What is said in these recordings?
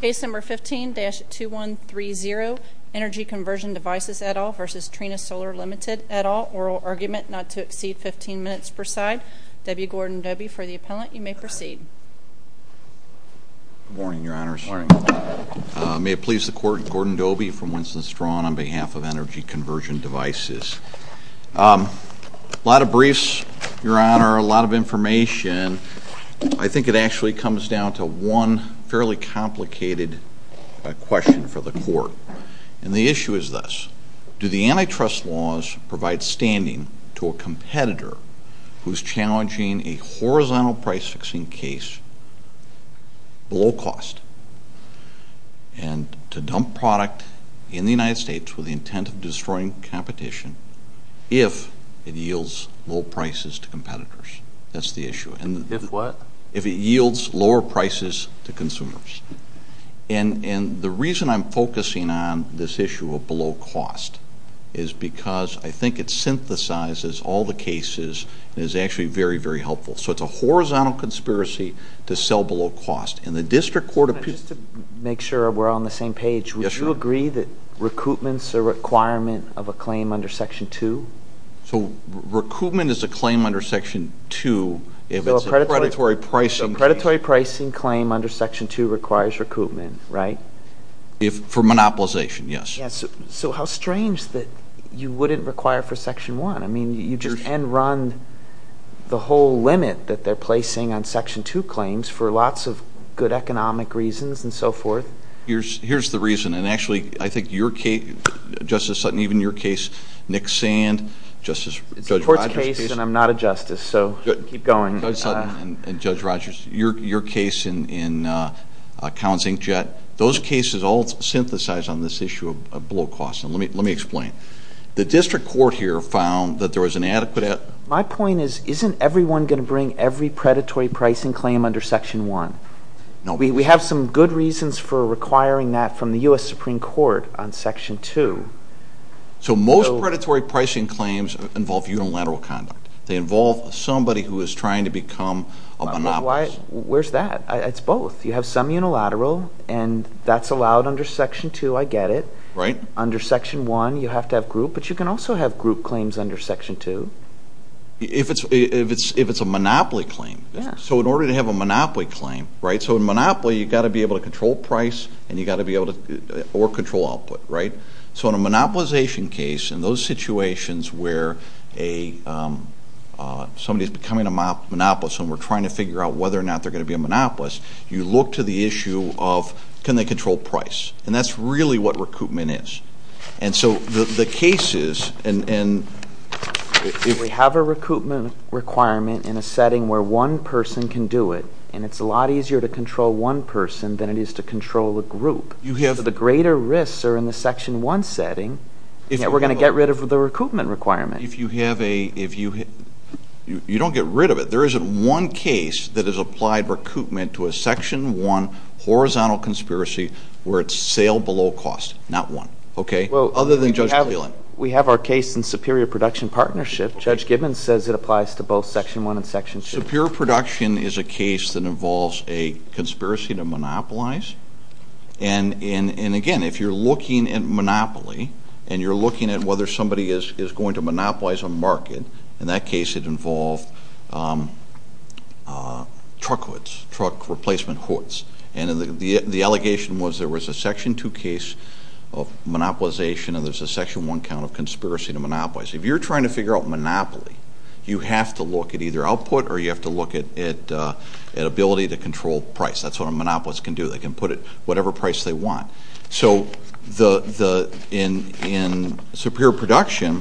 Case number 15-2130, Energy Conversion Devices, et al. v. Trina Solar Limited, et al. Oral argument not to exceed 15 minutes per side. W. Gordon Dobey for the appellant. You may proceed. Good morning, Your Honors. Good morning. May it please the Court, Gordon Dobey from Winston Strong on behalf of Energy Conversion Devices. I think it actually comes down to one fairly complicated question for the Court. And the issue is this. Do the antitrust laws provide standing to a competitor who is challenging a horizontal price-fixing case below cost and to dump product in the United States with the intent of destroying competition if it yields low prices to competitors? That's the issue. If what? If it yields lower prices to consumers. And the reason I'm focusing on this issue of below cost is because I think it synthesizes all the cases and is actually very, very helpful. So it's a horizontal conspiracy to sell below cost. And the District Court of... Just to make sure we're all on the same page. Yes, Your Honor. Would you agree that recoupment's a requirement of a claim under Section 2? So recoupment is a claim under Section 2 if it's a predatory pricing claim. A predatory pricing claim under Section 2 requires recoupment, right? For monopolization, yes. So how strange that you wouldn't require for Section 1. I mean, you just end-run the whole limit that they're placing on Section 2 claims for lots of good economic reasons and so forth. Here's the reason. And actually, I think your case, Justice Sutton, even your case, Nick Sand, Judge Rogers' case. It's a court's case and I'm not a justice, so keep going. Judge Sutton and Judge Rogers, your case in Counts, Inc. Jet, those cases all synthesize on this issue of below cost. Let me explain. The district court here found that there was an adequate... My point is isn't everyone going to bring every predatory pricing claim under Section 1? No. We have some good reasons for requiring that from the U.S. Supreme Court on Section 2. So most predatory pricing claims involve unilateral conduct. They involve somebody who is trying to become a monopolist. Where's that? It's both. You have some unilateral and that's allowed under Section 2, I get it. Right. Under Section 1, you have to have group, but you can also have group claims under Section 2. If it's a monopoly claim. Yeah. So in order to have a monopoly claim, right, so in monopoly you've got to be able to control price or control output, right? So in a monopolization case, in those situations where somebody is becoming a monopolist and we're trying to figure out whether or not they're going to be a monopolist, you look to the issue of can they control price. And that's really what recoupment is. And so the case is, if we have a recoupment requirement in a setting where one person can do it and it's a lot easier to control one person than it is to control a group, so the greater risks are in the Section 1 setting, we're going to get rid of the recoupment requirement. If you have a, if you, you don't get rid of it. There isn't one case that has applied recoupment to a Section 1 horizontal conspiracy where it's sale below cost. Not one. Okay? Well, we have our case in Superior Production Partnership. Judge Gibbons says it applies to both Section 1 and Section 2. Superior Production is a case that involves a conspiracy to monopolize. And again, if you're looking at monopoly and you're looking at whether somebody is going to monopolize a market, in that case it involved truck hoods, truck replacement hoods. And the allegation was there was a Section 2 case of monopolization and there's a Section 1 count of conspiracy to monopolize. If you're trying to figure out monopoly, you have to look at either output or you have to look at ability to control price. That's what a monopolist can do. They can put it whatever price they want. So, in Superior Production,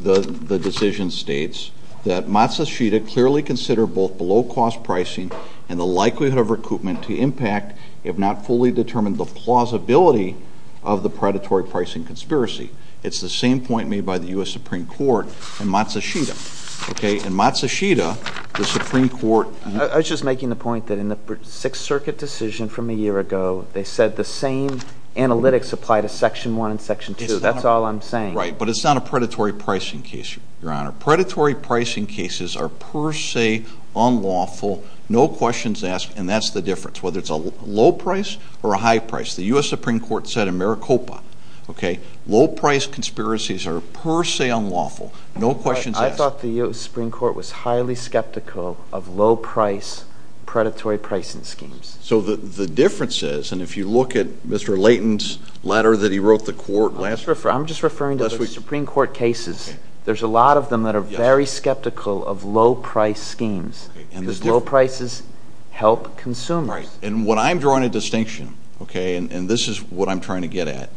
the decision states that Matsushita clearly considered both below cost pricing and the likelihood of recoupment to impact if not fully determined the plausibility of the predatory pricing conspiracy. It's the same point made by the U.S. Supreme Court in Matsushita. Okay? In Matsushita, the Supreme Court- I was just making the point that in the Sixth Circuit decision from a year ago, they said the same analytics apply to Section 1 and Section 2. That's all I'm saying. Right. But it's not a predatory pricing case, Your Honor. Predatory pricing cases are per se unlawful. No questions asked. And that's the difference, whether it's a low price or a high price. The U.S. Supreme Court said in Maricopa, okay, low price conspiracies are per se unlawful. No questions asked. I thought the U.S. Supreme Court was highly skeptical of low price predatory pricing schemes. So the difference is, and if you look at Mr. Layton's letter that he wrote the court last week- I'm just referring to the Supreme Court cases. There's a lot of them that are very skeptical of low price schemes because low prices help consumers. And what I'm drawing a distinction, okay, and this is what I'm trying to get at,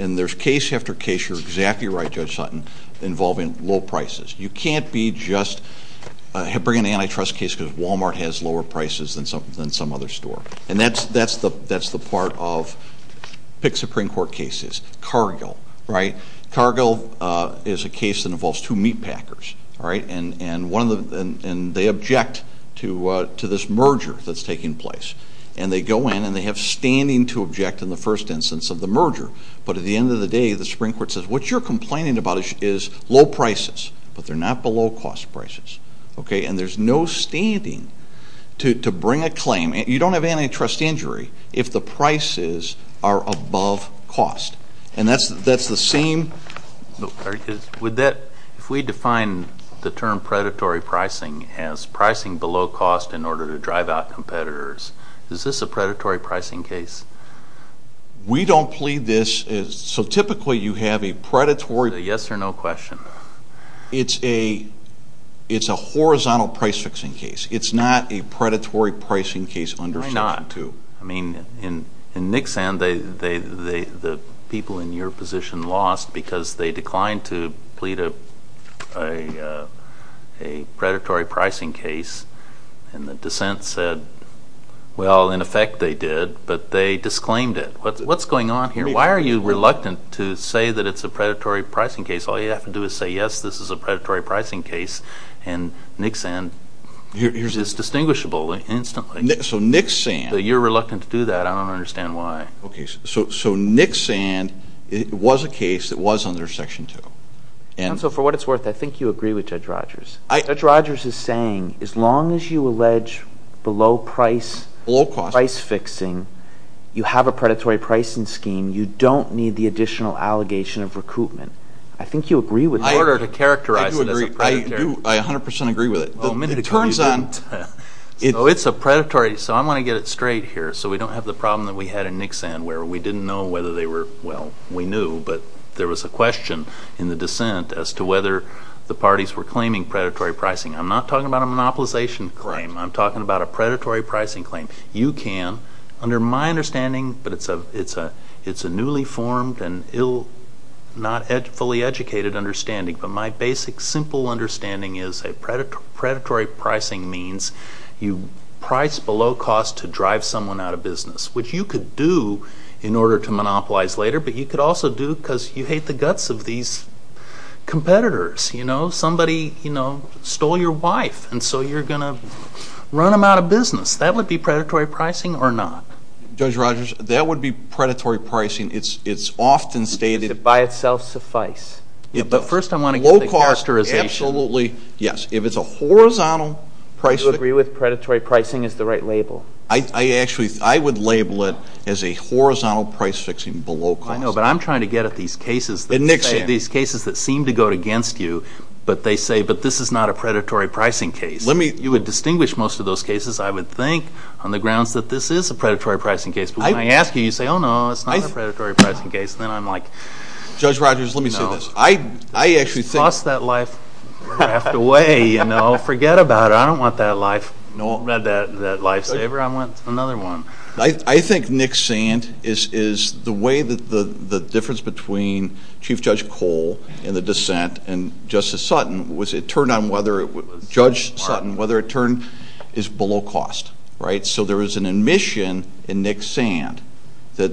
and there's case after case, you're exactly right, Judge Sutton, involving low prices. You can't be just bringing an antitrust case because Walmart has lower prices than some other store. And that's the part of pick Supreme Court cases. Cargill, right? Cargill is a case that involves two meatpackers, all right, and they object to this merger that's taking place. And they go in and they have standing to object in the first instance of the merger. But at the end of the day, the Supreme Court says, what you're complaining about is low prices, but they're not below cost prices, okay? And there's no standing to bring a claim. You don't have antitrust injury if the prices are above cost. And that's the same- If we define the term predatory pricing as pricing below cost in order to drive out competitors, is this a predatory pricing case? We don't plead this. So typically you have a predatory- Is it a yes or no question? It's a horizontal price fixing case. It's not a predatory pricing case under section 2. Why not? I mean, in Nixan, the people in your position lost because they declined to plead a predatory pricing case, and the dissent said, well, in effect they did, but they disclaimed it. What's going on here? Why are you reluctant to say that it's a predatory pricing case? All you have to do is say, yes, this is a predatory pricing case, and Nixan is distinguishable instantly. So Nixan- You're reluctant to do that. I don't understand why. Okay. So Nixan was a case that was under section 2. And so for what it's worth, I think you agree with Judge Rogers. Judge Rogers is saying as long as you allege below price- Below cost. Price fixing, you have a predatory pricing scheme. You don't need the additional allegation of recoupment. I think you agree with that. In order to characterize it as a predatory- I do agree. I do. I 100% agree with it. It turns out- So it's a predatory- So I want to get it straight here so we don't have the problem that we had in Nixan where we didn't know whether they were- Well, we knew, but there was a question in the dissent as to whether the parties were claiming predatory pricing. I'm not talking about a monopolization claim. I'm talking about a predatory pricing claim. You can, under my understanding, but it's a newly formed and not fully educated understanding, but my basic simple understanding is that predatory pricing means you price below cost to drive someone out of business, which you could do in order to monopolize later, but you could also do because you hate the guts of these competitors. Somebody stole your wife, and so you're going to run them out of business. That would be predatory pricing or not? Judge Rogers, that would be predatory pricing. It's often stated- Does it by itself suffice? But first I want to get the characterization. Absolutely, yes. If it's a horizontal price- Do you agree with predatory pricing as the right label? I would label it as a horizontal price fixing below cost. I know, but I'm trying to get at these cases that seem to go against you, but they say, but this is not a predatory pricing case. You would distinguish most of those cases, I would think, on the grounds that this is a predatory pricing case, but when I ask you, you say, oh, no, it's not a predatory pricing case, then I'm like- Judge Rogers, let me say this. No. I actually think- Toss that life raft away. Forget about it. I don't want that lifesaver. I want another one. I think Nick Sand is the way that the difference between Chief Judge Cole and the dissent and Justice Sutton was it turned on whether- Judge Sutton, whether it turned is below cost, right? So there was an admission in Nick Sand that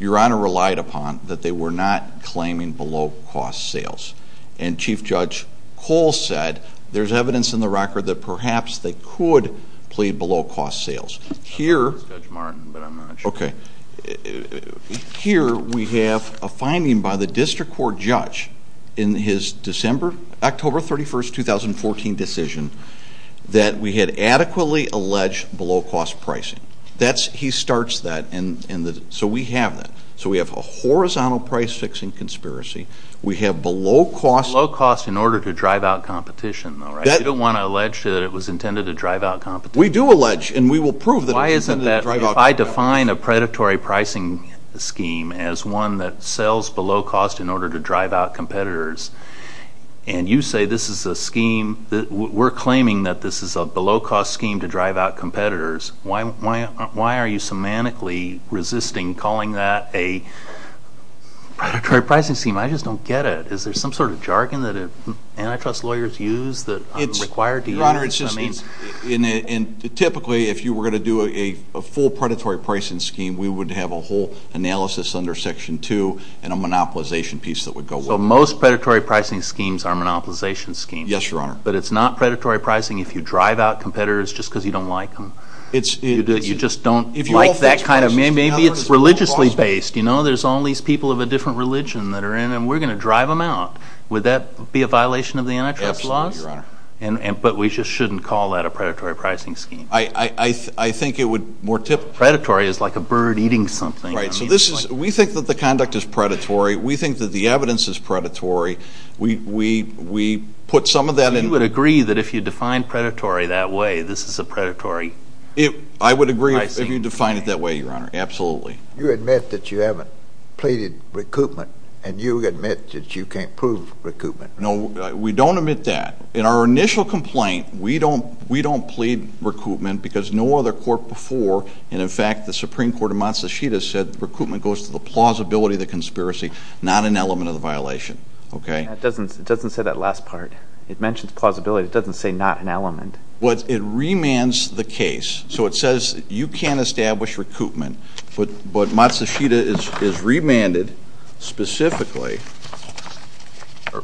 Your Honor relied upon, that they were not claiming below cost sales, and Chief Judge Cole said there's evidence in the record that perhaps they could plead below cost sales. That's Judge Martin, but I'm not sure. Okay. Here we have a finding by the district court judge in his October 31, 2014, decision that we had adequately alleged below cost pricing. He starts that, and so we have that. So we have a horizontal price fixing conspiracy. We have below cost- Below cost in order to drive out competition, though, right? You don't want to allege that it was intended to drive out competition. We do allege, and we will prove that it was intended to drive out competition. Why isn't that if I define a predatory pricing scheme as one that sells below cost in order to drive out competitors, and you say this is a scheme that we're claiming that this is a below cost scheme to drive out competitors, why are you semantically resisting calling that a predatory pricing scheme? I just don't get it. Is there some sort of jargon that antitrust lawyers use that I'm required to use? Your Honor, it's just that typically if you were going to do a full predatory pricing scheme, we would have a whole analysis under Section 2 and a monopolization piece that would go with it. So most predatory pricing schemes are monopolization schemes. Yes, Your Honor. But it's not predatory pricing if you drive out competitors just because you don't like them. You just don't like that kind of- Maybe it's religiously based. You know, there's all these people of a different religion that are in, and we're going to drive them out. Would that be a violation of the antitrust laws? Absolutely, Your Honor. But we just shouldn't call that a predatory pricing scheme. I think it would more typically- Predatory is like a bird eating something. Right. So we think that the conduct is predatory. We think that the evidence is predatory. We put some of that in- You would agree that if you define predatory that way, this is a predatory- I would agree if you define it that way, Your Honor. Absolutely. You admit that you haven't pleaded recoupment, and you admit that you can't prove recoupment. No, we don't admit that. In our initial complaint, we don't plead recoupment because no other court before, and, in fact, the Supreme Court of Matsushita said recoupment goes to the plausibility of the conspiracy, not an element of the violation. It doesn't say that last part. It mentions plausibility. It doesn't say not an element. It remands the case. So it says you can't establish recoupment, but Matsushita is remanded specifically-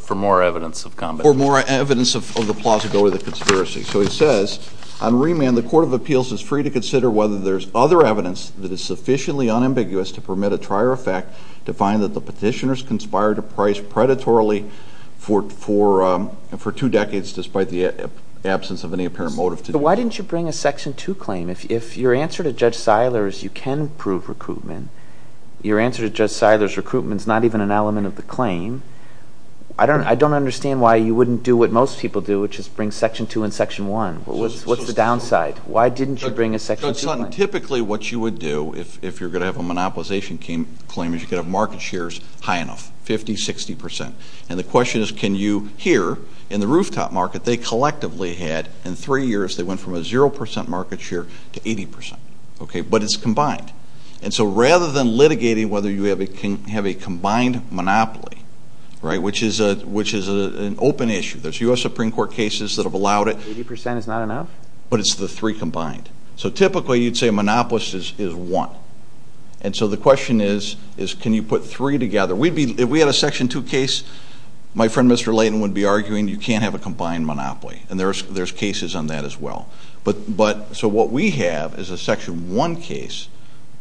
For more evidence of competence. For more evidence of the plausibility of the conspiracy. So it says, on remand, the Court of Appeals is free to consider whether there's other evidence that is sufficiently unambiguous to permit a trier effect to find that the petitioners conspired to price predatorily for two decades despite the absence of any apparent motive to do so. But why didn't you bring a Section 2 claim? If your answer to Judge Seiler is you can prove recoupment, your answer to Judge Seiler's recoupment is not even an element of the claim, I don't understand why you wouldn't do what most people do, which is bring Section 2 and Section 1. What's the downside? Why didn't you bring a Section 2 claim? Typically what you would do if you're going to have a monopolization claim is you could have market shares high enough, 50%, 60%. And the question is can you hear, in the rooftop market, they collectively had, in three years, they went from a 0% market share to 80%. But it's combined. And so rather than litigating whether you can have a combined monopoly, which is an open issue. There's U.S. Supreme Court cases that have allowed it. 80% is not enough? But it's the three combined. So typically you'd say a monopolist is one. And so the question is can you put three together? If we had a Section 2 case, my friend Mr. Layton would be arguing you can't have a combined monopoly, and there's cases on that as well. So what we have is a Section 1 case,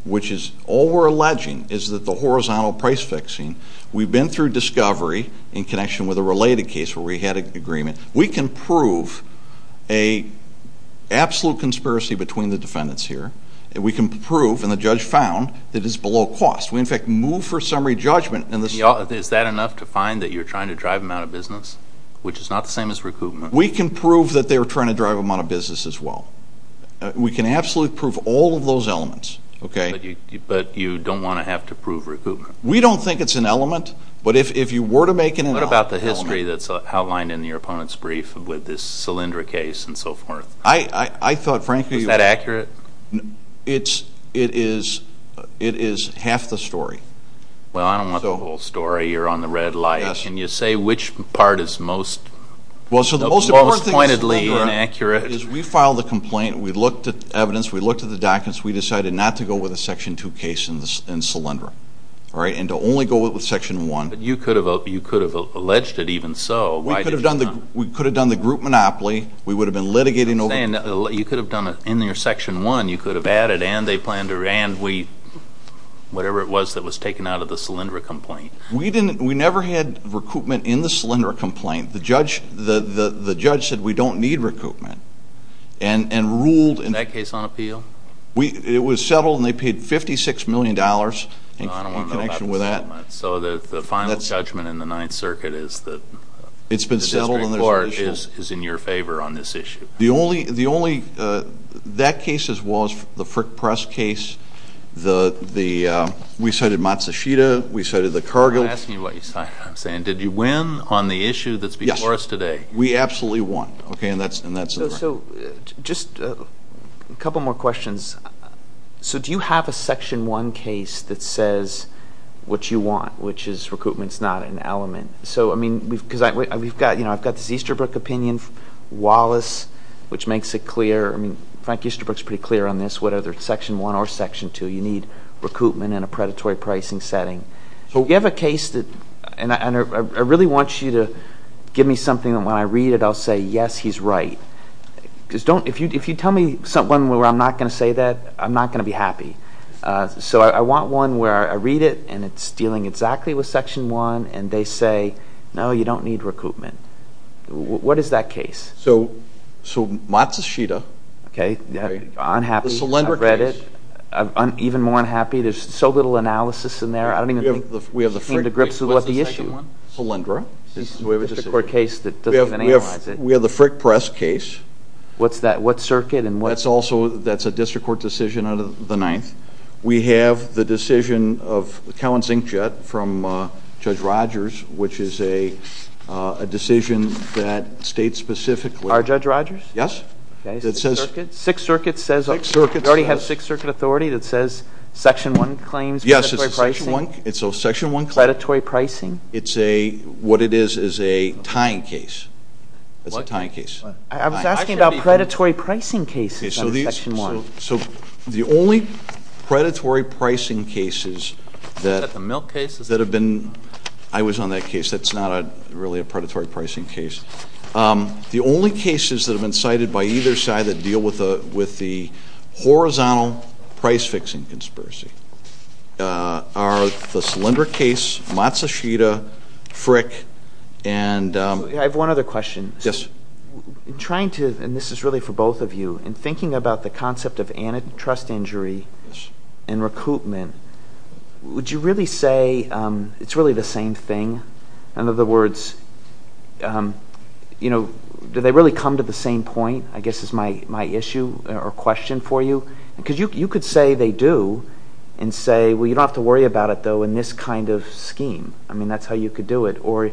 which is all we're alleging is that the horizontal price fixing, we've been through discovery in connection with a related case where we had an agreement. We can prove an absolute conspiracy between the defendants here. We can prove, and the judge found, that it's below cost. We, in fact, move for summary judgment. Is that enough to find that you're trying to drive them out of business, which is not the same as recoupment? We can prove that they were trying to drive them out of business as well. We can absolutely prove all of those elements. But you don't want to have to prove recoupment. We don't think it's an element, but if you were to make it an element. What about the history that's outlined in your opponent's brief with this Solyndra case and so forth? I thought, frankly, it is half the story. Well, I don't want the whole story. You're on the red light. Can you say which part is most pointedly inaccurate? We filed the complaint. We looked at the evidence. We looked at the documents. We decided not to go with the Section 2 case in Solyndra and to only go with Section 1. But you could have alleged it even so. We could have done the group monopoly. We would have been litigating over it. You could have done it in your Section 1. You could have added, and they planned to, and we, whatever it was that was taken out of the Solyndra complaint. We never had recoupment in the Solyndra complaint. The judge said we don't need recoupment and ruled. Was that case on appeal? It was settled, and they paid $56 million in connection with that. I don't want to know about the settlement. So the final judgment in the Ninth Circuit is that the district court is in your favor on this issue? That case was the Frick Press case. We cited Matsushita. We cited the Cargill. I'm asking you what you cited. I'm saying did you win on the issue that's before us today? Yes, we absolutely won, and that's the record. So just a couple more questions. So do you have a Section 1 case that says what you want, which is recoupment is not an element? So, I mean, because I've got this Easterbrook opinion, Wallace, which makes it clear. I mean, Frank Easterbrook is pretty clear on this. Whether it's Section 1 or Section 2, you need recoupment in a predatory pricing setting. So we have a case, and I really want you to give me something that when I read it, I'll say, yes, he's right. Because if you tell me something where I'm not going to say that, I'm not going to be happy. So I want one where I read it, and it's dealing exactly with Section 1, and they say, no, you don't need recoupment. What is that case? So Matsushita. Okay. Unhappy. I've read it. Even more unhappy. There's so little analysis in there. I don't even think he came to grips with what the issue is. What's the second one? Palindra. We have a district court case that doesn't even analyze it. We have the Frick Press case. What's that? What circuit? That's also a district court decision out of the Ninth. We have the decision of Cowan's Inkjet from Judge Rogers, which is a decision that states specifically. Our Judge Rogers? Yes. Okay. Six circuits. Six circuits. We already have a six-circuit authority that says Section 1 claims predatory pricing. Yes, it's a Section 1 claim. Predatory pricing. It's a, what it is is a tying case. What? It's a tying case. I was asking about predatory pricing cases out of Section 1. So the only predatory pricing cases that have been. Is that the milk case? I was on that case. That's not really a predatory pricing case. The only cases that have been cited by either side that deal with the horizontal price-fixing conspiracy are the Solyndra case, Matsushita, Frick, and. I have one other question. Yes. In trying to, and this is really for both of you, in thinking about the concept of antitrust injury and recoupment, would you really say it's really the same thing? In other words, you know, do they really come to the same point, I guess is my issue or question for you? Because you could say they do and say, well, you don't have to worry about it, though, in this kind of scheme. I mean, that's how you could do it. Or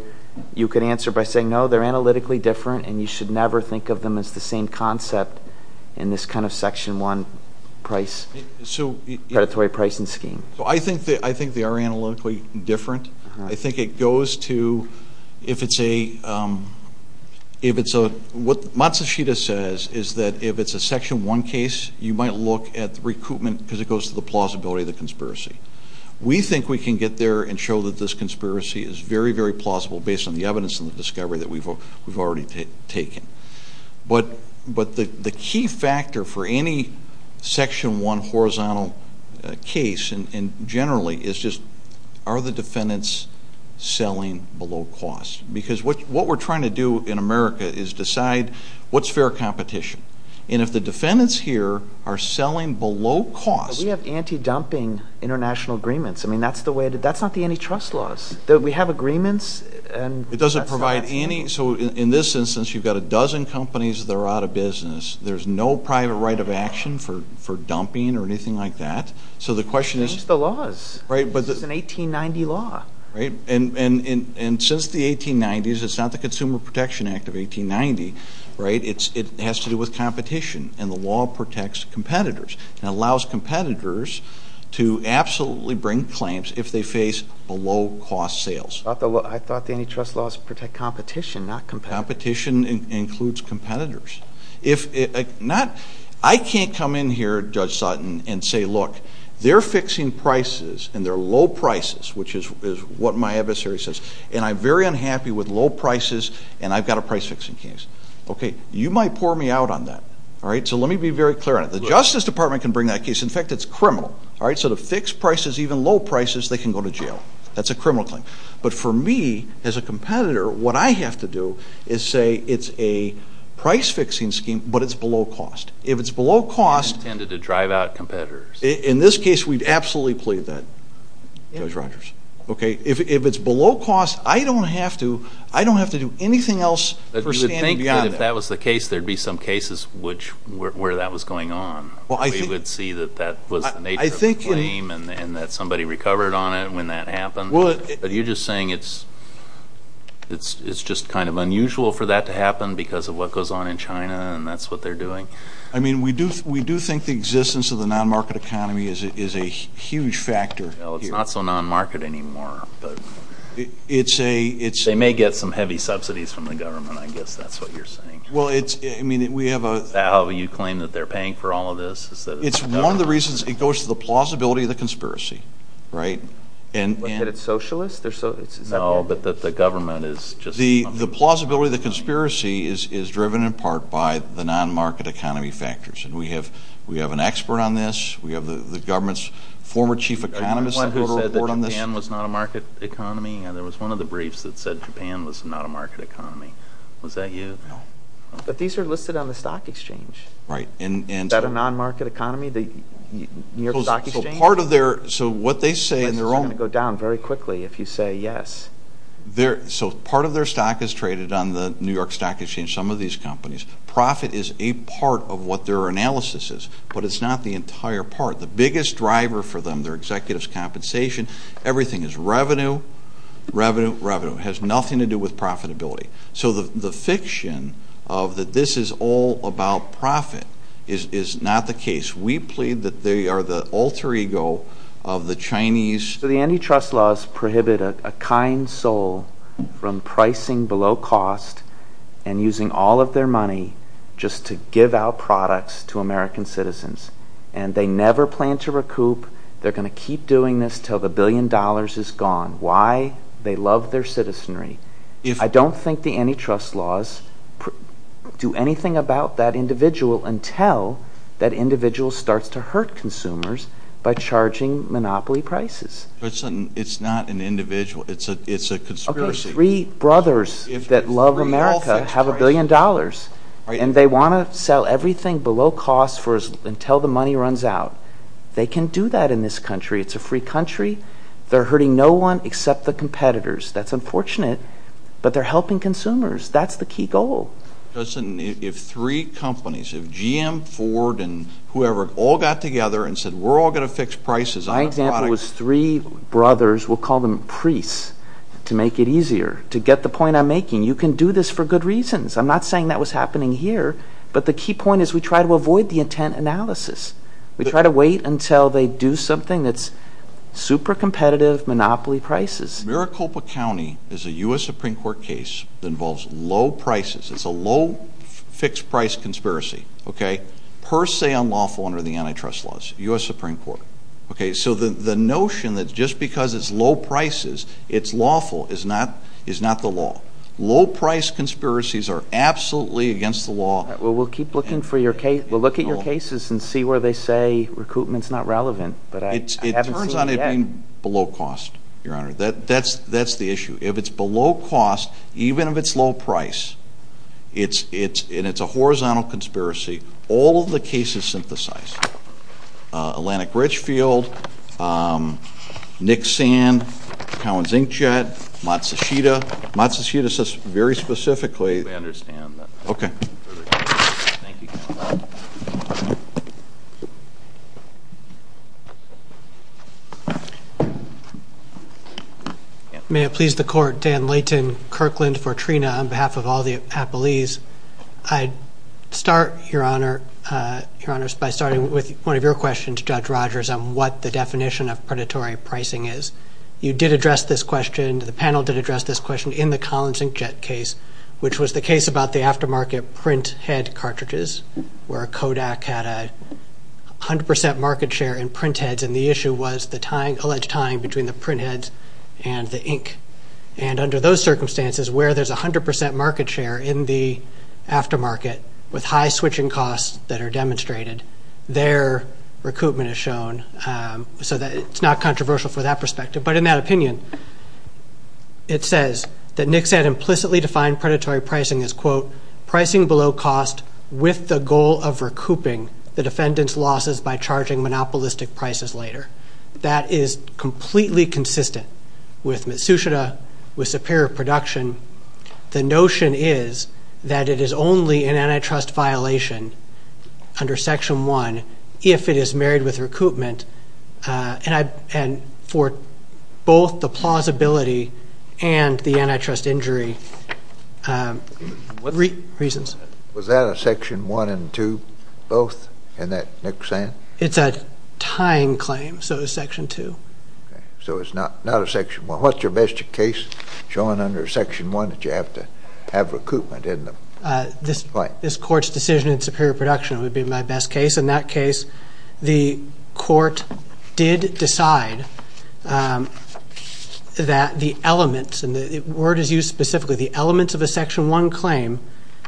you could answer by saying, no, they're analytically different and you should never think of them as the same concept in this kind of Section 1 price, predatory pricing scheme. So I think they are analytically different. I think it goes to, if it's a, if it's a, what Matsushita says is that if it's a Section 1 case, you might look at recoupment because it goes to the plausibility of the conspiracy. We think we can get there and show that this conspiracy is very, very plausible based on the evidence and the discovery that we've already taken. But the key factor for any Section 1 horizontal case and generally is just are the defendants selling below cost? Because what we're trying to do in America is decide what's fair competition. And if the defendants here are selling below cost. We have anti-dumping international agreements. I mean, that's the way, that's not the antitrust laws. We have agreements and that's not. So in this instance, you've got a dozen companies that are out of business. There's no private right of action for dumping or anything like that. So the question is. Change the laws. Right. It's an 1890 law. Right. And since the 1890s, it's not the Consumer Protection Act of 1890. Right. It has to do with competition. And the law protects competitors and allows competitors to absolutely bring claims if they face below cost sales. I thought the antitrust laws protect competition, not competitors. Competition includes competitors. I can't come in here, Judge Sutton, and say, look, they're fixing prices and they're low prices. Which is what my adversary says. And I'm very unhappy with low prices and I've got a price fixing case. Okay. You might pour me out on that. All right. So let me be very clear on it. The Justice Department can bring that case. In fact, it's criminal. All right. So to fix prices, even low prices, they can go to jail. That's a criminal claim. But for me, as a competitor, what I have to do is say it's a price fixing scheme, but it's below cost. If it's below cost. You intended to drive out competitors. In this case, we'd absolutely plead that, Judge Rogers. Okay. If it's below cost, I don't have to do anything else for standing beyond that. But you would think that if that was the case, there would be some cases where that was going on. We would see that that was the nature of the claim and that somebody recovered on it when that happened. Are you just saying it's just kind of unusual for that to happen because of what goes on in China and that's what they're doing? I mean, we do think the existence of the non-market economy is a huge factor. Well, it's not so non-market anymore. They may get some heavy subsidies from the government. I guess that's what you're saying. Well, it's, I mean, we have a How will you claim that they're paying for all of this? It's one of the reasons it goes to the plausibility of the conspiracy. Right? That it's socialist? No, but the government is just The plausibility of the conspiracy is driven in part by the non-market economy factors. And we have an expert on this. We have the government's former chief economist who wrote a report on this. Are you the one who said that Japan was not a market economy? There was one of the briefs that said Japan was not a market economy. Was that you? No. But these are listed on the stock exchange. Right. Is that a non-market economy, the New York Stock Exchange? So part of their, so what they say in their own This is going to go down very quickly if you say yes. So part of their stock is traded on the New York Stock Exchange, some of these companies. Profit is a part of what their analysis is. But it's not the entire part. The biggest driver for them, their executives' compensation, everything is revenue, revenue, revenue. It has nothing to do with profitability. So the fiction of that this is all about profit is not the case. We plead that they are the alter ego of the Chinese. So the antitrust laws prohibit a kind soul from pricing below cost and using all of their money just to give out products to American citizens. And they never plan to recoup. They're going to keep doing this until the billion dollars is gone. Why? They love their citizenry. I don't think the antitrust laws do anything about that individual until that individual starts to hurt consumers by charging monopoly prices. It's not an individual. It's a conspiracy. Okay, three brothers that love America have a billion dollars. And they want to sell everything below cost until the money runs out. They can do that in this country. It's a free country. They're hurting no one except the competitors. That's unfortunate. But they're helping consumers. That's the key goal. If three companies, if GM, Ford, and whoever all got together and said we're all going to fix prices on a product. My example was three brothers. We'll call them priests to make it easier to get the point I'm making. You can do this for good reasons. I'm not saying that was happening here. But the key point is we try to avoid the intent analysis. We try to wait until they do something that's super competitive monopoly prices. Maricopa County is a U.S. Supreme Court case that involves low prices. It's a low fixed price conspiracy, okay, per se unlawful under the antitrust laws. U.S. Supreme Court. Okay, so the notion that just because it's low prices it's lawful is not the law. Low price conspiracies are absolutely against the law. Well, we'll keep looking for your case. We'll look at your cases and see where they say recruitment's not relevant. But I haven't seen it yet. I find below cost, Your Honor. That's the issue. If it's below cost, even if it's low price, and it's a horizontal conspiracy, all of the cases synthesize. Atlantic Richfield, Nick Sand, Cowan Zinkjad, Matsushita. Matsushita says very specifically. We understand that. Okay. Thank you. May it please the Court. Dan Layton, Kirkland, Fortrina, on behalf of all the appellees. I start, Your Honor, by starting with one of your questions, Judge Rogers, on what the definition of predatory pricing is. You did address this question. The panel did address this question in the Cowan Zinkjad case, which was the case about the aftermarket printhead cartridges where Kodak had a 100% market share in printheads, and the issue was the alleged tying between the printheads and the ink. And under those circumstances, where there's a 100% market share in the aftermarket with high switching costs that are demonstrated, their recoupment is shown. So it's not controversial for that perspective. But in that opinion, it says that Nick Sand implicitly defined predatory pricing as, quote, pricing below cost with the goal of recouping the defendant's losses by charging monopolistic prices later. That is completely consistent with Matsushita, with Superior Production. The notion is that it is only an antitrust violation under Section 1 if it is married with recoupment, and for both the plausibility and the antitrust injury reasons. Was that a Section 1 and 2 both in that Nick Sand? It's a tying claim, so it's Section 2. Okay. So it's not a Section 1. What's your best case showing under Section 1 that you have to have recoupment in the claim? This Court's decision in Superior Production would be my best case. In that case, the Court did decide that the elements, and the word is used specifically, the elements of a Section 1 claim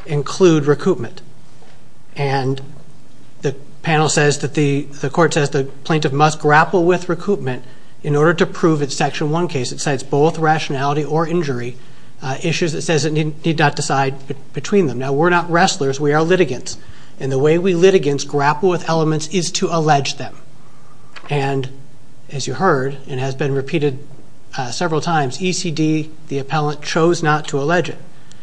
include recoupment. And the panel says that the Court says the plaintiff must grapple with recoupment in order to prove its Section 1 case. It cites both rationality or injury issues. It says it need not decide between them. Now, we're not wrestlers. We are litigants. And the way we litigants grapple with elements is to allege them. And as you heard and has been repeated several times, ECD, the appellant, chose not to allege it.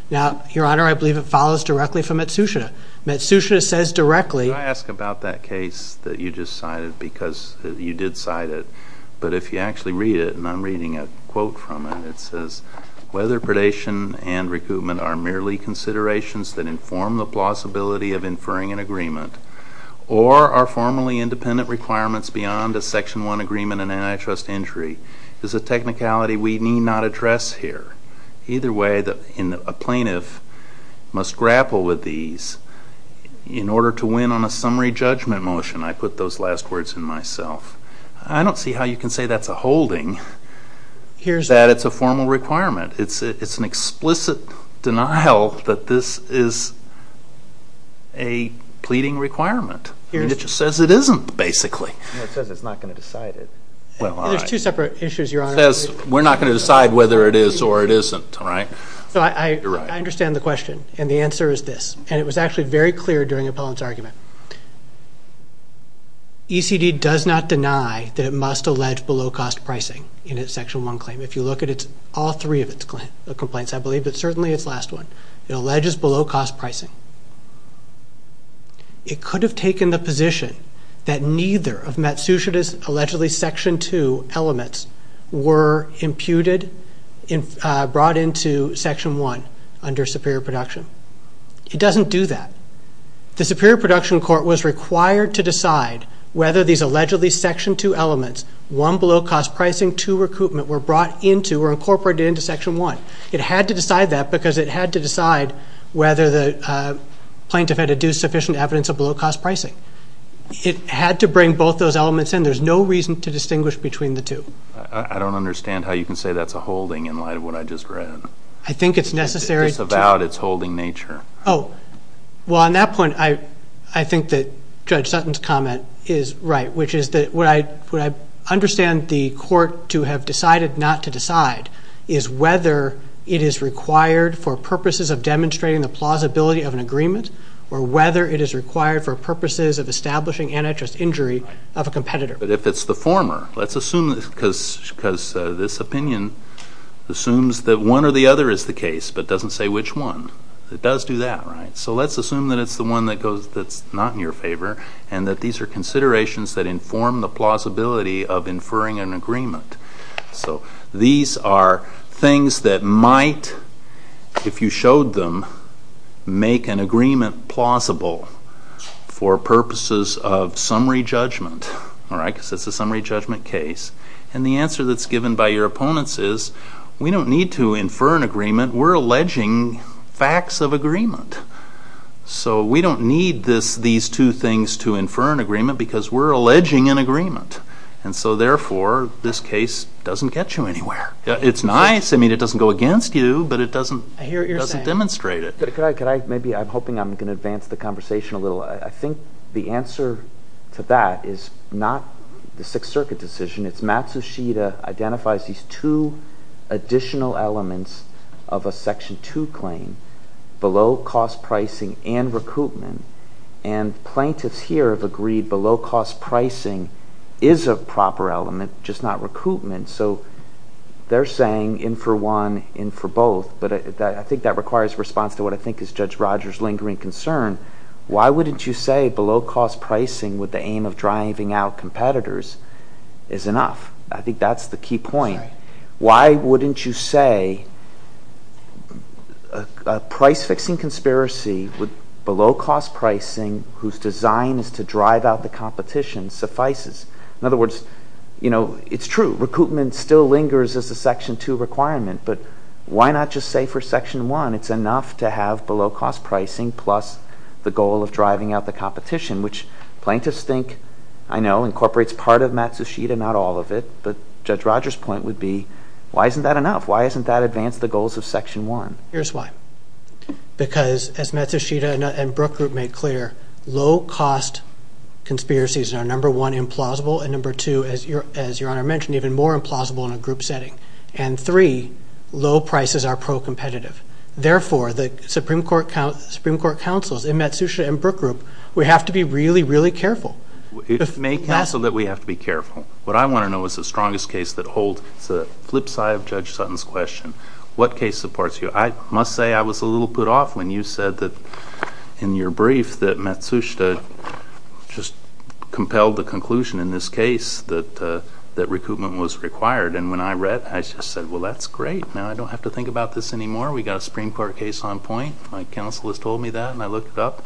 Now, Your Honor, I believe it follows directly from Matsushita. Matsushita says directly— Could I ask about that case that you just cited because you did cite it? But if you actually read it, and I'm reading a quote from it, it says, whether predation and recoupment are merely considerations that inform the plausibility of inferring an agreement or are formally independent requirements beyond a Section 1 agreement and antitrust injury is a technicality we need not address here. Either way, a plaintiff must grapple with these in order to win on a summary judgment motion. I put those last words in myself. I don't see how you can say that's a holding, that it's a formal requirement. It's an explicit denial that this is a pleading requirement. It just says it isn't, basically. It says it's not going to decide it. Well, all right. There's two separate issues, Your Honor. It says we're not going to decide whether it is or it isn't, right? You're right. So I understand the question, and the answer is this, and it was actually very clear during the appellant's argument. ECD does not deny that it must allege below-cost pricing in its Section 1 claim. If you look at all three of its complaints, I believe, but certainly its last one, it alleges below-cost pricing. It could have taken the position that neither of Matsushita's allegedly Section 2 elements were imputed, brought into Section 1 under Superior Production. It doesn't do that. The Superior Production Court was required to decide whether these allegedly Section 2 elements, one, below-cost pricing, two, recruitment, were brought into or incorporated into Section 1. It had to decide that because it had to decide whether the plaintiff had adduced sufficient evidence of below-cost pricing. It had to bring both those elements in. There's no reason to distinguish between the two. I don't understand how you can say that's a holding in light of what I just read. I think it's necessary to... It's about its holding nature. Oh. Well, on that point, I think that Judge Sutton's comment is right, which is that what I understand the court to have decided not to decide is whether it is required for purposes of demonstrating the plausibility of an agreement or whether it is required for purposes of establishing antitrust injury of a competitor. But if it's the former, let's assume, because this opinion assumes that one or the other is the case but doesn't say which one. It does do that, right? So let's assume that it's the one that's not in your favor and that these are considerations that inform the plausibility of inferring an agreement. So these are things that might, if you showed them, make an agreement plausible for purposes of summary judgment, because it's a summary judgment case. And the answer that's given by your opponents is, we don't need to infer an agreement. We're alleging facts of agreement. So we don't need these two things to infer an agreement because we're alleging an agreement. And so, therefore, this case doesn't get you anywhere. It's nice. I mean, it doesn't go against you, but it doesn't demonstrate it. I'm hoping I'm going to advance the conversation a little. I think the answer to that is not the Sixth Circuit decision. It's Matsushita identifies these two additional elements of a Section 2 claim, below-cost pricing and recoupment. And plaintiffs here have agreed below-cost pricing is a proper element, just not recoupment. So they're saying in for one, in for both. But I think that requires response to what I think is Judge Rogers' lingering concern. Why wouldn't you say below-cost pricing with the aim of driving out competitors is enough? I think that's the key point. Why wouldn't you say a price-fixing conspiracy with below-cost pricing, whose design is to drive out the competition, suffices? In other words, you know, it's true, recoupment still lingers as a Section 2 requirement, but why not just say for Section 1 it's enough to have below-cost pricing plus the goal of driving out the competition, which plaintiffs think, I know, incorporates part of Matsushita, not all of it. But Judge Rogers' point would be, why isn't that enough? Why hasn't that advanced the goals of Section 1? Here's why. Because, as Matsushita and Brook Group make clear, low-cost conspiracies are, number one, implausible, and number two, as Your Honor mentioned, even more implausible in a group setting. And three, low prices are pro-competitive. Therefore, the Supreme Court counsels in Matsushita and Brook Group, we have to be really, really careful. It may counsel that we have to be careful. What I want to know is the strongest case that holds. It's the flip side of Judge Sutton's question. What case supports you? I must say I was a little put off when you said that in your brief that Matsushita just compelled the conclusion in this case that recoupment was required. And when I read, I just said, well, that's great. Now I don't have to think about this anymore. We've got a Supreme Court case on point. My counsel has told me that, and I looked it up.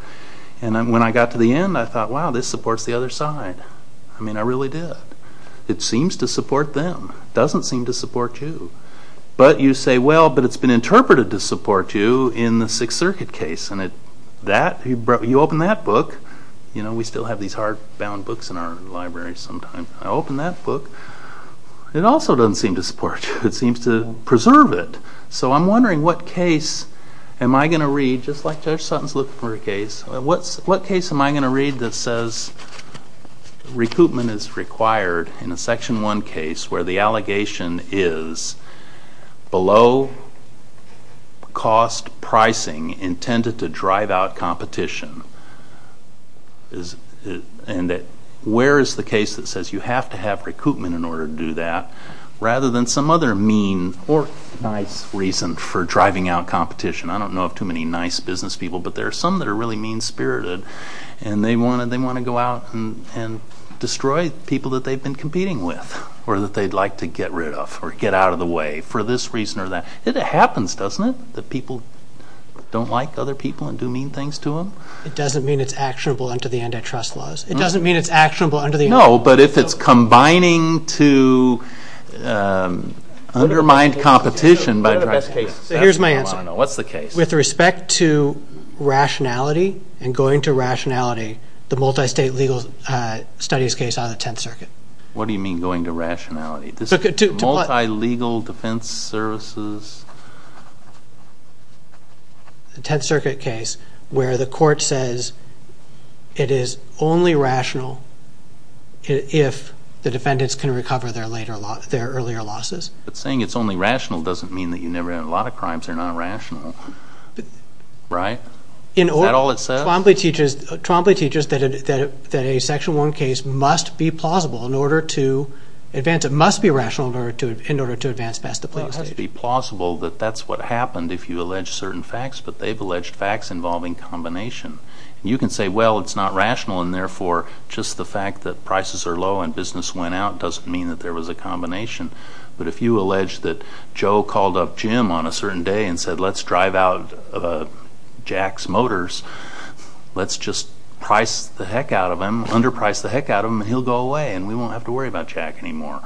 And when I got to the end, I thought, wow, this supports the other side. I mean, I really did. It seems to support them. It doesn't seem to support you. But you say, well, but it's been interpreted to support you in the Sixth Circuit case. And you open that book. You know, we still have these hardbound books in our library sometimes. I open that book. It also doesn't seem to support you. It seems to preserve it. So I'm wondering what case am I going to read, just like Judge Sutton's looking for a case, what case am I going to read that says recoupment is required in a Section 1 case where the allegation is below cost pricing intended to drive out competition? And where is the case that says you have to have recoupment in order to do that rather than some other mean or nice reason for driving out competition? I don't know of too many nice business people. But there are some that are really mean-spirited, and they want to go out and destroy people that they've been competing with or that they'd like to get rid of or get out of the way for this reason or that. It happens, doesn't it, that people don't like other people and do mean things to them? It doesn't mean it's actionable under the antitrust laws. It doesn't mean it's actionable under the antitrust laws. No, but if it's combining to undermine competition by driving out competition. So here's my answer. What's the case? With respect to rationality and going to rationality, the multi-state legal studies case on the Tenth Circuit. What do you mean going to rationality? Multi-legal defense services? The Tenth Circuit case where the court says it is only rational if the defendants can recover their earlier losses. But saying it's only rational doesn't mean that you never had a lot of crimes. They're not rational, right? Is that all it says? Trombley teaches that a Section 1 case must be plausible in order to advance. It must be rational in order to advance past the playing stage. It has to be plausible that that's what happened if you allege certain facts, but they've alleged facts involving combination. You can say, well, it's not rational, and therefore just the fact that prices are low and business went out doesn't mean that there was a combination. But if you allege that Joe called up Jim on a certain day and said let's drive out of Jack's Motors, let's just price the heck out of him, underprice the heck out of him, and he'll go away and we won't have to worry about Jack anymore.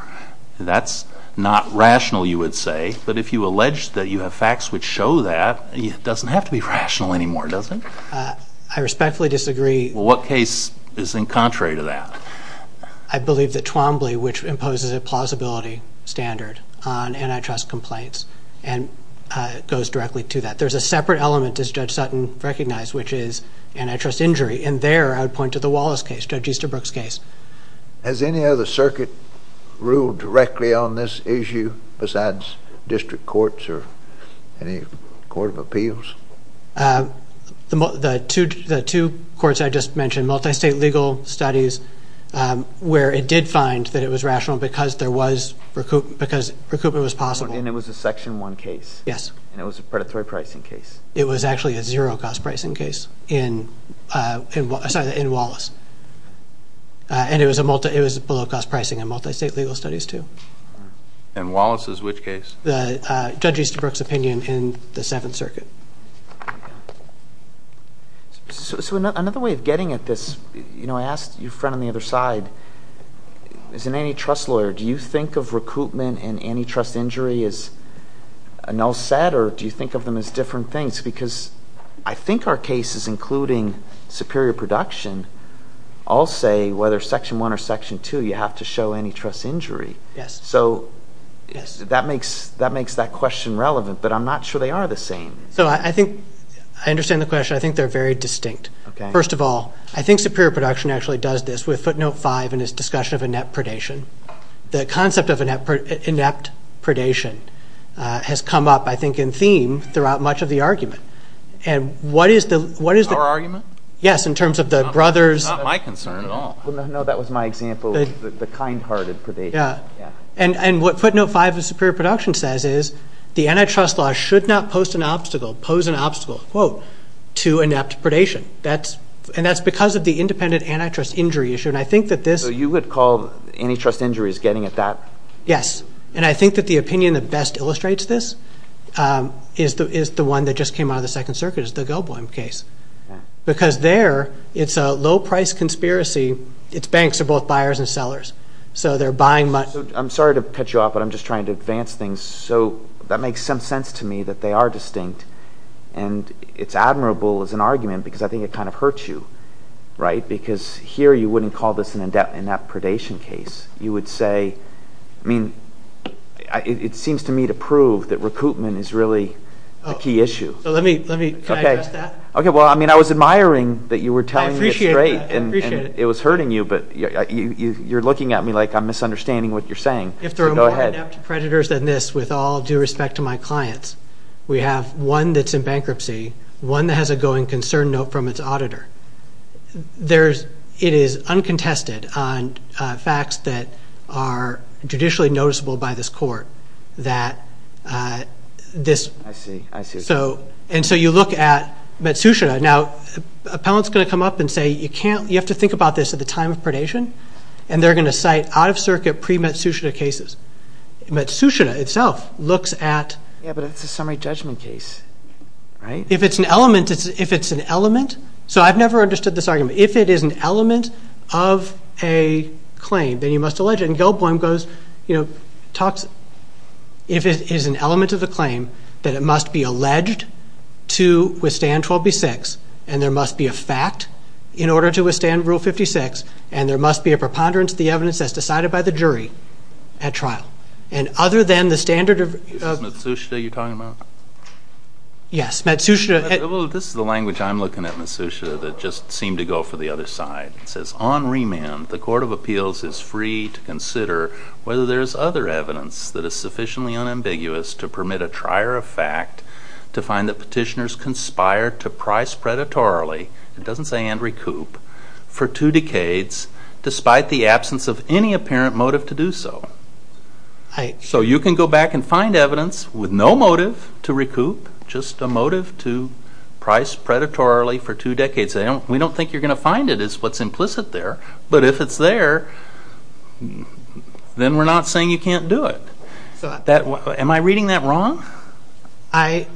That's not rational, you would say. But if you allege that you have facts which show that, it doesn't have to be rational anymore, does it? I respectfully disagree. What case is in contrary to that? I believe that Twombly, which imposes a plausibility standard on antitrust complaints and goes directly to that. There's a separate element, as Judge Sutton recognized, which is antitrust injury, and there I would point to the Wallace case, Judge Easterbrook's case. Has any other circuit ruled directly on this issue besides district courts or any court of appeals? The two courts I just mentioned, multistate legal studies, where it did find that it was rational because recoupment was possible. And it was a Section 1 case? Yes. And it was a predatory pricing case? It was actually a zero-cost pricing case in Wallace. And it was below-cost pricing in multistate legal studies, too. In Wallace's which case? Judge Easterbrook's opinion in the Seventh Circuit. So another way of getting at this, you know, I asked your friend on the other side, as an antitrust lawyer, do you think of recoupment and antitrust injury as a null set or do you think of them as different things? Because I think our cases, including superior production, all say whether Section 1 or Section 2, you have to show antitrust injury. Yes. So that makes that question relevant, but I'm not sure they are the same. So I think I understand the question. I think they're very distinct. Okay. First of all, I think superior production actually does this. With footnote 5 in its discussion of inept predation, the concept of inept predation has come up, I think, in theme throughout much of the argument. And what is the – Our argument? Yes, in terms of the brothers. It's not my concern at all. No, that was my example of the kind-hearted predation. Yeah. And what footnote 5 of superior production says is the antitrust law should not post an obstacle, pose an obstacle, quote, to inept predation. And that's because of the independent antitrust injury issue. And I think that this – So you would call antitrust injuries getting at that? Yes. And I think that the opinion that best illustrates this is the one that just came out of the Second Circuit, is the Goldblum case. Because there, it's a low-price conspiracy. Its banks are both buyers and sellers. So they're buying – I'm sorry to cut you off, but I'm just trying to advance things. So that makes some sense to me that they are distinct. And it's admirable as an argument because I think it kind of hurts you, right? Because here you wouldn't call this an inept predation case. You would say – I mean, it seems to me to prove that recoupment is really a key issue. So let me – can I address that? Okay. Well, I mean, I was admiring that you were telling me it's great. I appreciate that. I appreciate it. I'm not hurting you, but you're looking at me like I'm misunderstanding what you're saying. If there are more inept predators than this, with all due respect to my clients, we have one that's in bankruptcy, one that has a going concern note from its auditor. It is uncontested on facts that are judicially noticeable by this court that this – I see, I see. And so you look at Matsushita. Now, an appellant's going to come up and say, you can't – you have to think about this at the time of predation, and they're going to cite out-of-circuit pre-Matsushita cases. Matsushita itself looks at – Yeah, but it's a summary judgment case, right? If it's an element – if it's an element – so I've never understood this argument. If it is an element of a claim, then you must allege it. You know, it talks – if it is an element of a claim, then it must be alleged to withstand 12B-6, and there must be a fact in order to withstand Rule 56, and there must be a preponderance of the evidence as decided by the jury at trial. And other than the standard of – Is this Matsushita you're talking about? Yes, Matsushita – Well, this is the language I'm looking at, Matsushita, that just seemed to go for the other side. It says, on remand, the Court of Appeals is free to consider whether there is other evidence that is sufficiently unambiguous to permit a trier of fact to find that petitioners conspired to price predatorily – it doesn't say and recoup – for two decades, despite the absence of any apparent motive to do so. So you can go back and find evidence with no motive to recoup, just a motive to price predatorily for two decades. We don't think you're going to find it is what's implicit there, but if it's there, then we're not saying you can't do it. Am I reading that wrong? I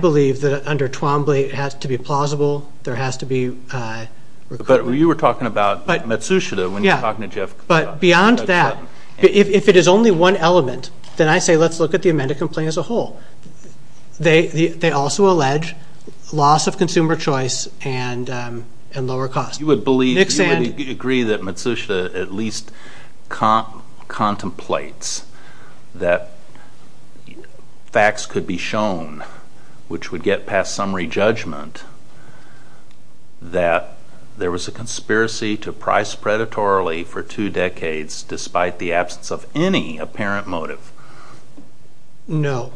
believe that under Twombly it has to be plausible, there has to be – But you were talking about Matsushita when you were talking to Jeff – But beyond that, if it is only one element, then I say let's look at the amended complaint as a whole. They also allege loss of consumer choice and lower costs. You would agree that Matsushita at least contemplates that facts could be shown which would get past summary judgment, that there was a conspiracy to price predatorily for two decades despite the absence of any apparent motive? No.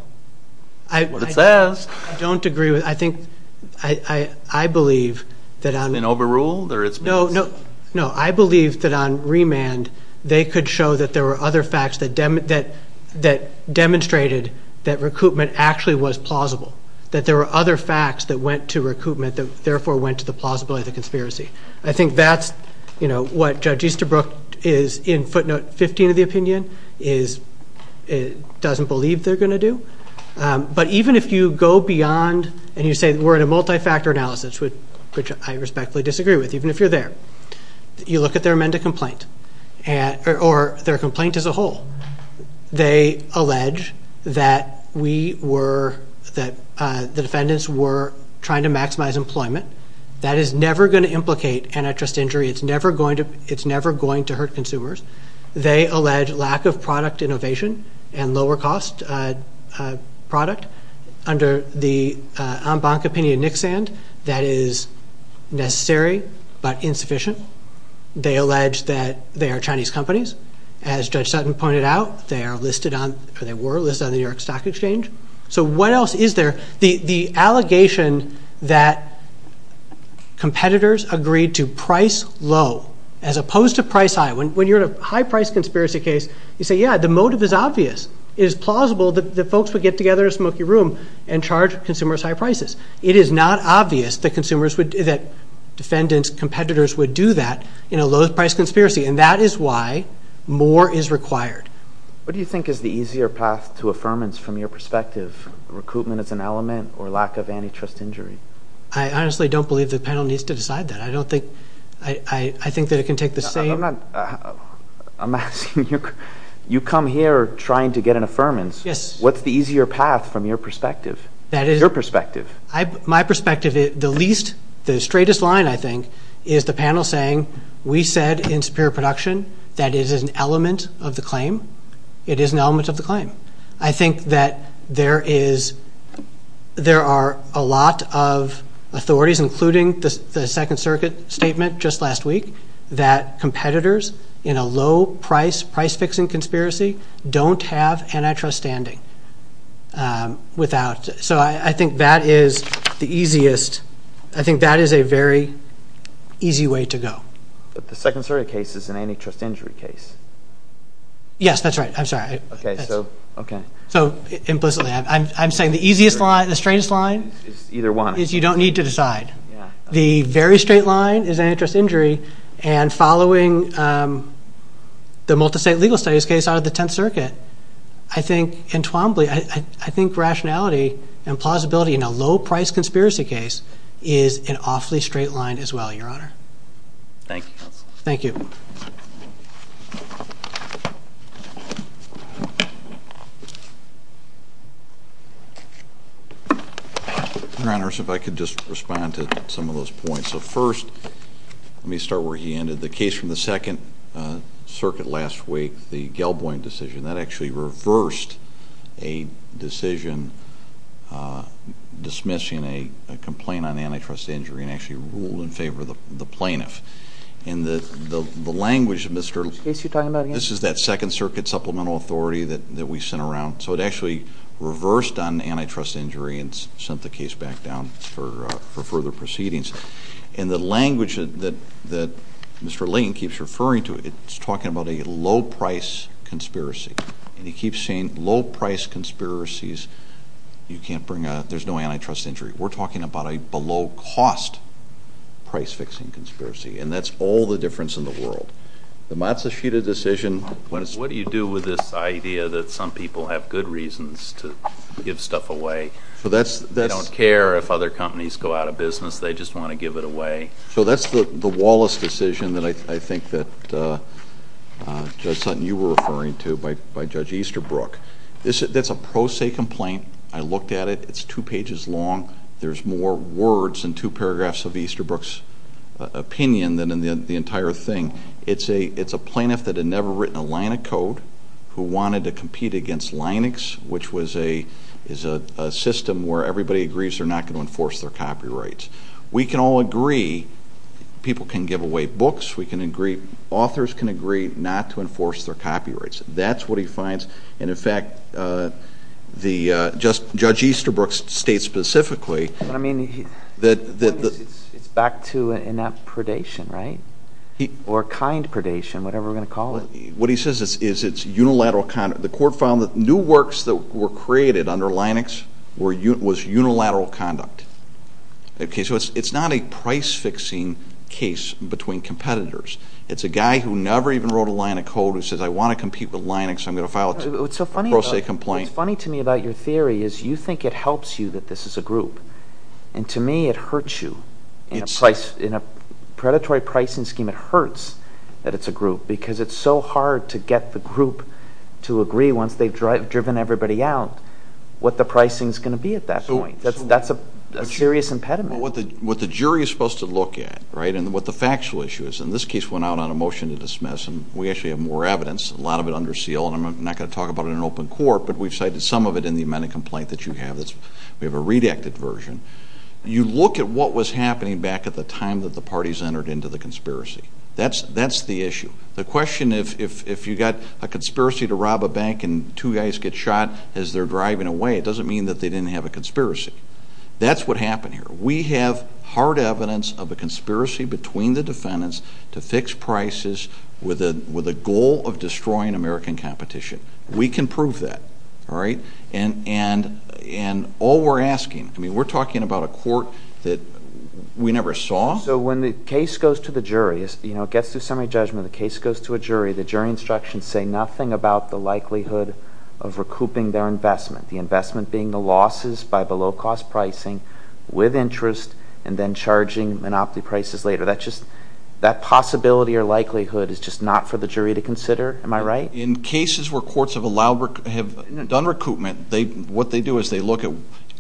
That's what it says. I don't agree with – I believe that on – An overrule? No, I believe that on remand they could show that there were other facts that demonstrated that recoupment actually was plausible, that there were other facts that went to recoupment that therefore went to the plausibility of the conspiracy. It doesn't believe they're going to do. But even if you go beyond and you say we're in a multi-factor analysis, which I respectfully disagree with, even if you're there, you look at their amended complaint or their complaint as a whole. They allege that we were – that the defendants were trying to maximize employment. That is never going to implicate antitrust injury. It's never going to hurt consumers. They allege lack of product innovation and lower cost product under the en banc opinion of Nixand. That is necessary but insufficient. They allege that they are Chinese companies. As Judge Sutton pointed out, they are listed on – or they were listed on the New York Stock Exchange. So what else is there? The allegation that competitors agreed to price low as opposed to price high. When you're in a high-price conspiracy case, you say, yeah, the motive is obvious. It is plausible that folks would get together in a smoky room and charge consumers high prices. It is not obvious that consumers would – that defendants, competitors would do that in a low-price conspiracy, and that is why more is required. What do you think is the easier path to affirmance from your perspective, recoupment as an element or lack of antitrust injury? I honestly don't believe the panel needs to decide that. I don't think – I think that it can take the same – I'm not – I'm asking you – you come here trying to get an affirmance. Yes. What's the easier path from your perspective? That is – Your perspective. My perspective, the least – the straightest line, I think, is the panel saying we said in Superior Production that it is an element of the claim. It is an element of the claim. I think that there is – there are a lot of authorities, including the Second Circuit statement just last week, that competitors in a low-price price-fixing conspiracy don't have antitrust standing without – so I think that is the easiest – I think that is a very easy way to go. But the Second Circuit case is an antitrust injury case. Yes, that's right. I'm sorry. Okay, so – okay. So implicitly, I'm saying the easiest line, the straightest line – Either one. – is you don't need to decide. The very straight line is an antitrust injury, and following the multi-state legal studies case out of the Tenth Circuit, I think entwombly, I think rationality and plausibility in a low-price conspiracy case is an awfully straight line as well, Your Honor. Thank you. Thank you. Thank you. Your Honors, if I could just respond to some of those points. So first, let me start where he ended. The case from the Second Circuit last week, the Gelboin decision, that actually reversed a decision dismissing a complaint on antitrust injury and actually ruled in favor of the plaintiff. And the language of Mr. – Which case are you talking about again? This is that Second Circuit supplemental authority that we sent around. So it actually reversed on antitrust injury and sent the case back down for further proceedings. And the language that Mr. Lane keeps referring to, it's talking about a low-price conspiracy. And he keeps saying low-price conspiracies, you can't bring a – there's no antitrust injury. We're talking about a below-cost price-fixing conspiracy, and that's all the difference in the world. The Matsushita decision – What do you do with this idea that some people have good reasons to give stuff away? They don't care if other companies go out of business. They just want to give it away. So that's the Wallace decision that I think that, Judge Sutton, you were referring to by Judge Easterbrook. That's a pro se complaint. I looked at it. It's two pages long. There's more words in two paragraphs of Easterbrook's opinion than in the entire thing. It's a plaintiff that had never written a line of code who wanted to compete against Linux, which is a system where everybody agrees they're not going to enforce their copyrights. We can all agree people can give away books. We can agree – authors can agree not to enforce their copyrights. That's what he finds. And, in fact, Judge Easterbrook states specifically that – It's back to inept predation, right? Or kind predation, whatever we're going to call it. What he says is it's unilateral conduct. The court found that new works that were created under Linux was unilateral conduct. So it's not a price-fixing case between competitors. It's a guy who never even wrote a line of code who says, I want to compete with Linux. I'm going to file a pro se complaint. What's so funny to me about your theory is you think it helps you that this is a group. And, to me, it hurts you. In a predatory pricing scheme, it hurts that it's a group because it's so hard to get the group to agree once they've driven everybody out what the pricing is going to be at that point. That's a serious impediment. What the jury is supposed to look at, right, and what the factual issue is – and this case went out on a motion to dismiss, and we actually have more evidence, a lot of it under seal, and I'm not going to talk about it in open court, but we've cited some of it in the amended complaint that you have. We have a redacted version. You look at what was happening back at the time that the parties entered into the conspiracy. That's the issue. The question if you've got a conspiracy to rob a bank and two guys get shot as they're driving away, it doesn't mean that they didn't have a conspiracy. That's what happened here. We have hard evidence of a conspiracy between the defendants to fix prices with a goal of destroying American competition. We can prove that, all right? And all we're asking, I mean, we're talking about a court that we never saw. So when the case goes to the jury, you know, it gets through summary judgment, the case goes to a jury, the jury instructions say nothing about the likelihood of recouping their investment, the investment being the losses by below-cost pricing with interest and then charging monopoly prices later. That possibility or likelihood is just not for the jury to consider. Am I right? In cases where courts have done recoupment, what they do is they look at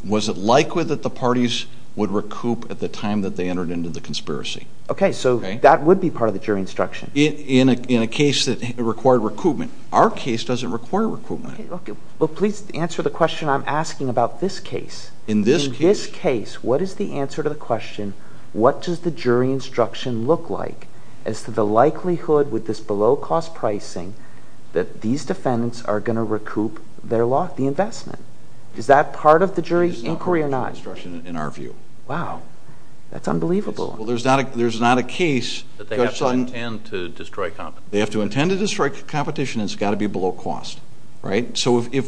was it likely that the parties would recoup at the time that they entered into the conspiracy. Okay, so that would be part of the jury instruction. In a case that required recoupment. Our case doesn't require recoupment. Well, please answer the question I'm asking about this case. In this case? In this case, what is the answer to the question, what does the jury instruction look like as to the likelihood with this below-cost pricing that these defendants are going to recoup their loss, the investment? Is that part of the jury's inquiry or not? It's not part of the jury instruction in our view. Wow, that's unbelievable. Well, there's not a case. They have to intend to destroy competition. They have to intend to destroy competition and it's got to be below cost. Right? So you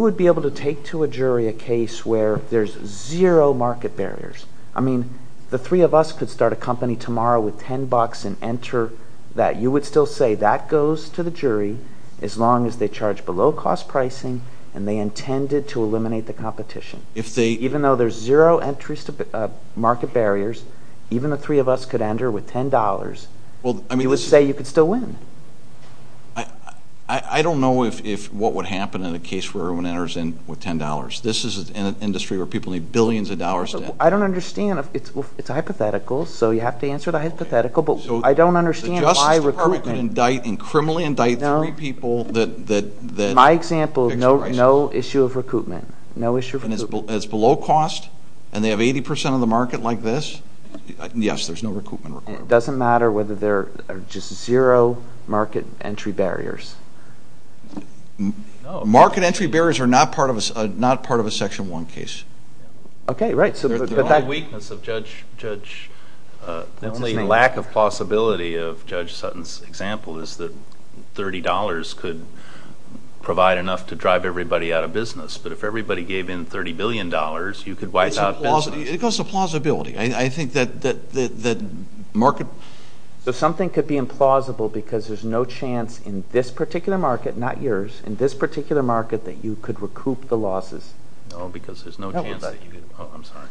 would be able to take to a jury a case where there's zero market barriers. I mean, the three of us could start a company tomorrow with $10 and enter that. You would still say that goes to the jury as long as they charge below cost pricing and they intended to eliminate the competition. Even though there's zero market barriers, even the three of us could enter with $10. You would say you could still win. I don't know what would happen in a case where everyone enters in with $10. This is an industry where people need billions of dollars to enter. I don't understand. It's hypothetical, so you have to answer the hypothetical. But I don't understand why recoupment. The Justice Department could criminally indict three people. My example, no issue of recoupment, no issue of recoupment. And it's below cost and they have 80 percent of the market like this? Yes, there's no recoupment required. It doesn't matter whether there are just zero market entry barriers. Market entry barriers are not part of a Section 1 case. Okay, right. The only weakness of Judge Sutton's example is that $30 could provide enough to drive everybody out of business. But if everybody gave in $30 billion, you could wipe out business. It goes to plausibility. I think that market. So something could be implausible because there's no chance in this particular market, not yours, in this particular market that you could recoup the losses. No, because there's no chance that you could. I'm sorry.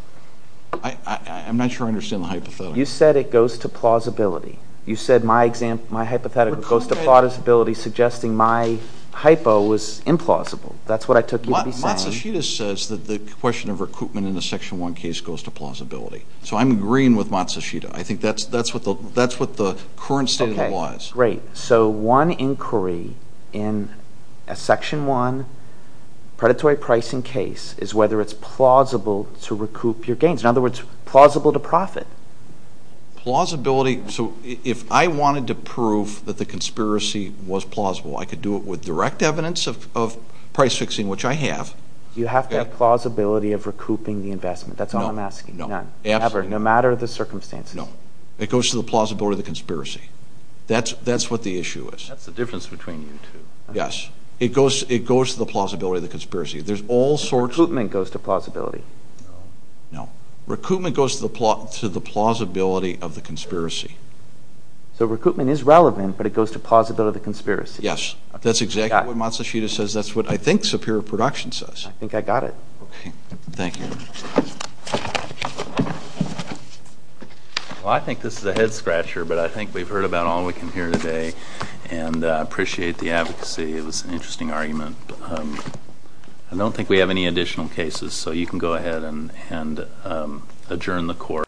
I'm not sure I understand the hypothetical. You said it goes to plausibility. You said my hypothetical goes to plausibility suggesting my hypo was implausible. That's what I took you to be saying. Matsushita says that the question of recoupment in a Section 1 case goes to plausibility. So I'm agreeing with Matsushita. I think that's what the current statement was. Okay, great. So one inquiry in a Section 1 predatory pricing case is whether it's plausible to recoup your gains. In other words, plausible to profit. Plausibility. So if I wanted to prove that the conspiracy was plausible, I could do it with direct evidence of price fixing, which I have. You have to have plausibility of recouping the investment. That's all I'm asking. None. No matter the circumstances. No. It goes to the plausibility of the conspiracy. That's what the issue is. That's the difference between you two. Yes. It goes to the plausibility of the conspiracy. There's all sorts of... Recoupment goes to plausibility. No. No. Recoupment goes to the plausibility of the conspiracy. So recoupment is relevant, but it goes to plausibility of the conspiracy. Yes. That's exactly what Matsushita says. That's what I think Superior Production says. I think I got it. Okay. Thank you. Well, I think this is a head-scratcher, but I think we've heard about all we can hear today, and I appreciate the advocacy. It was an interesting argument. I don't think we have any additional cases, so you can go ahead and adjourn the court.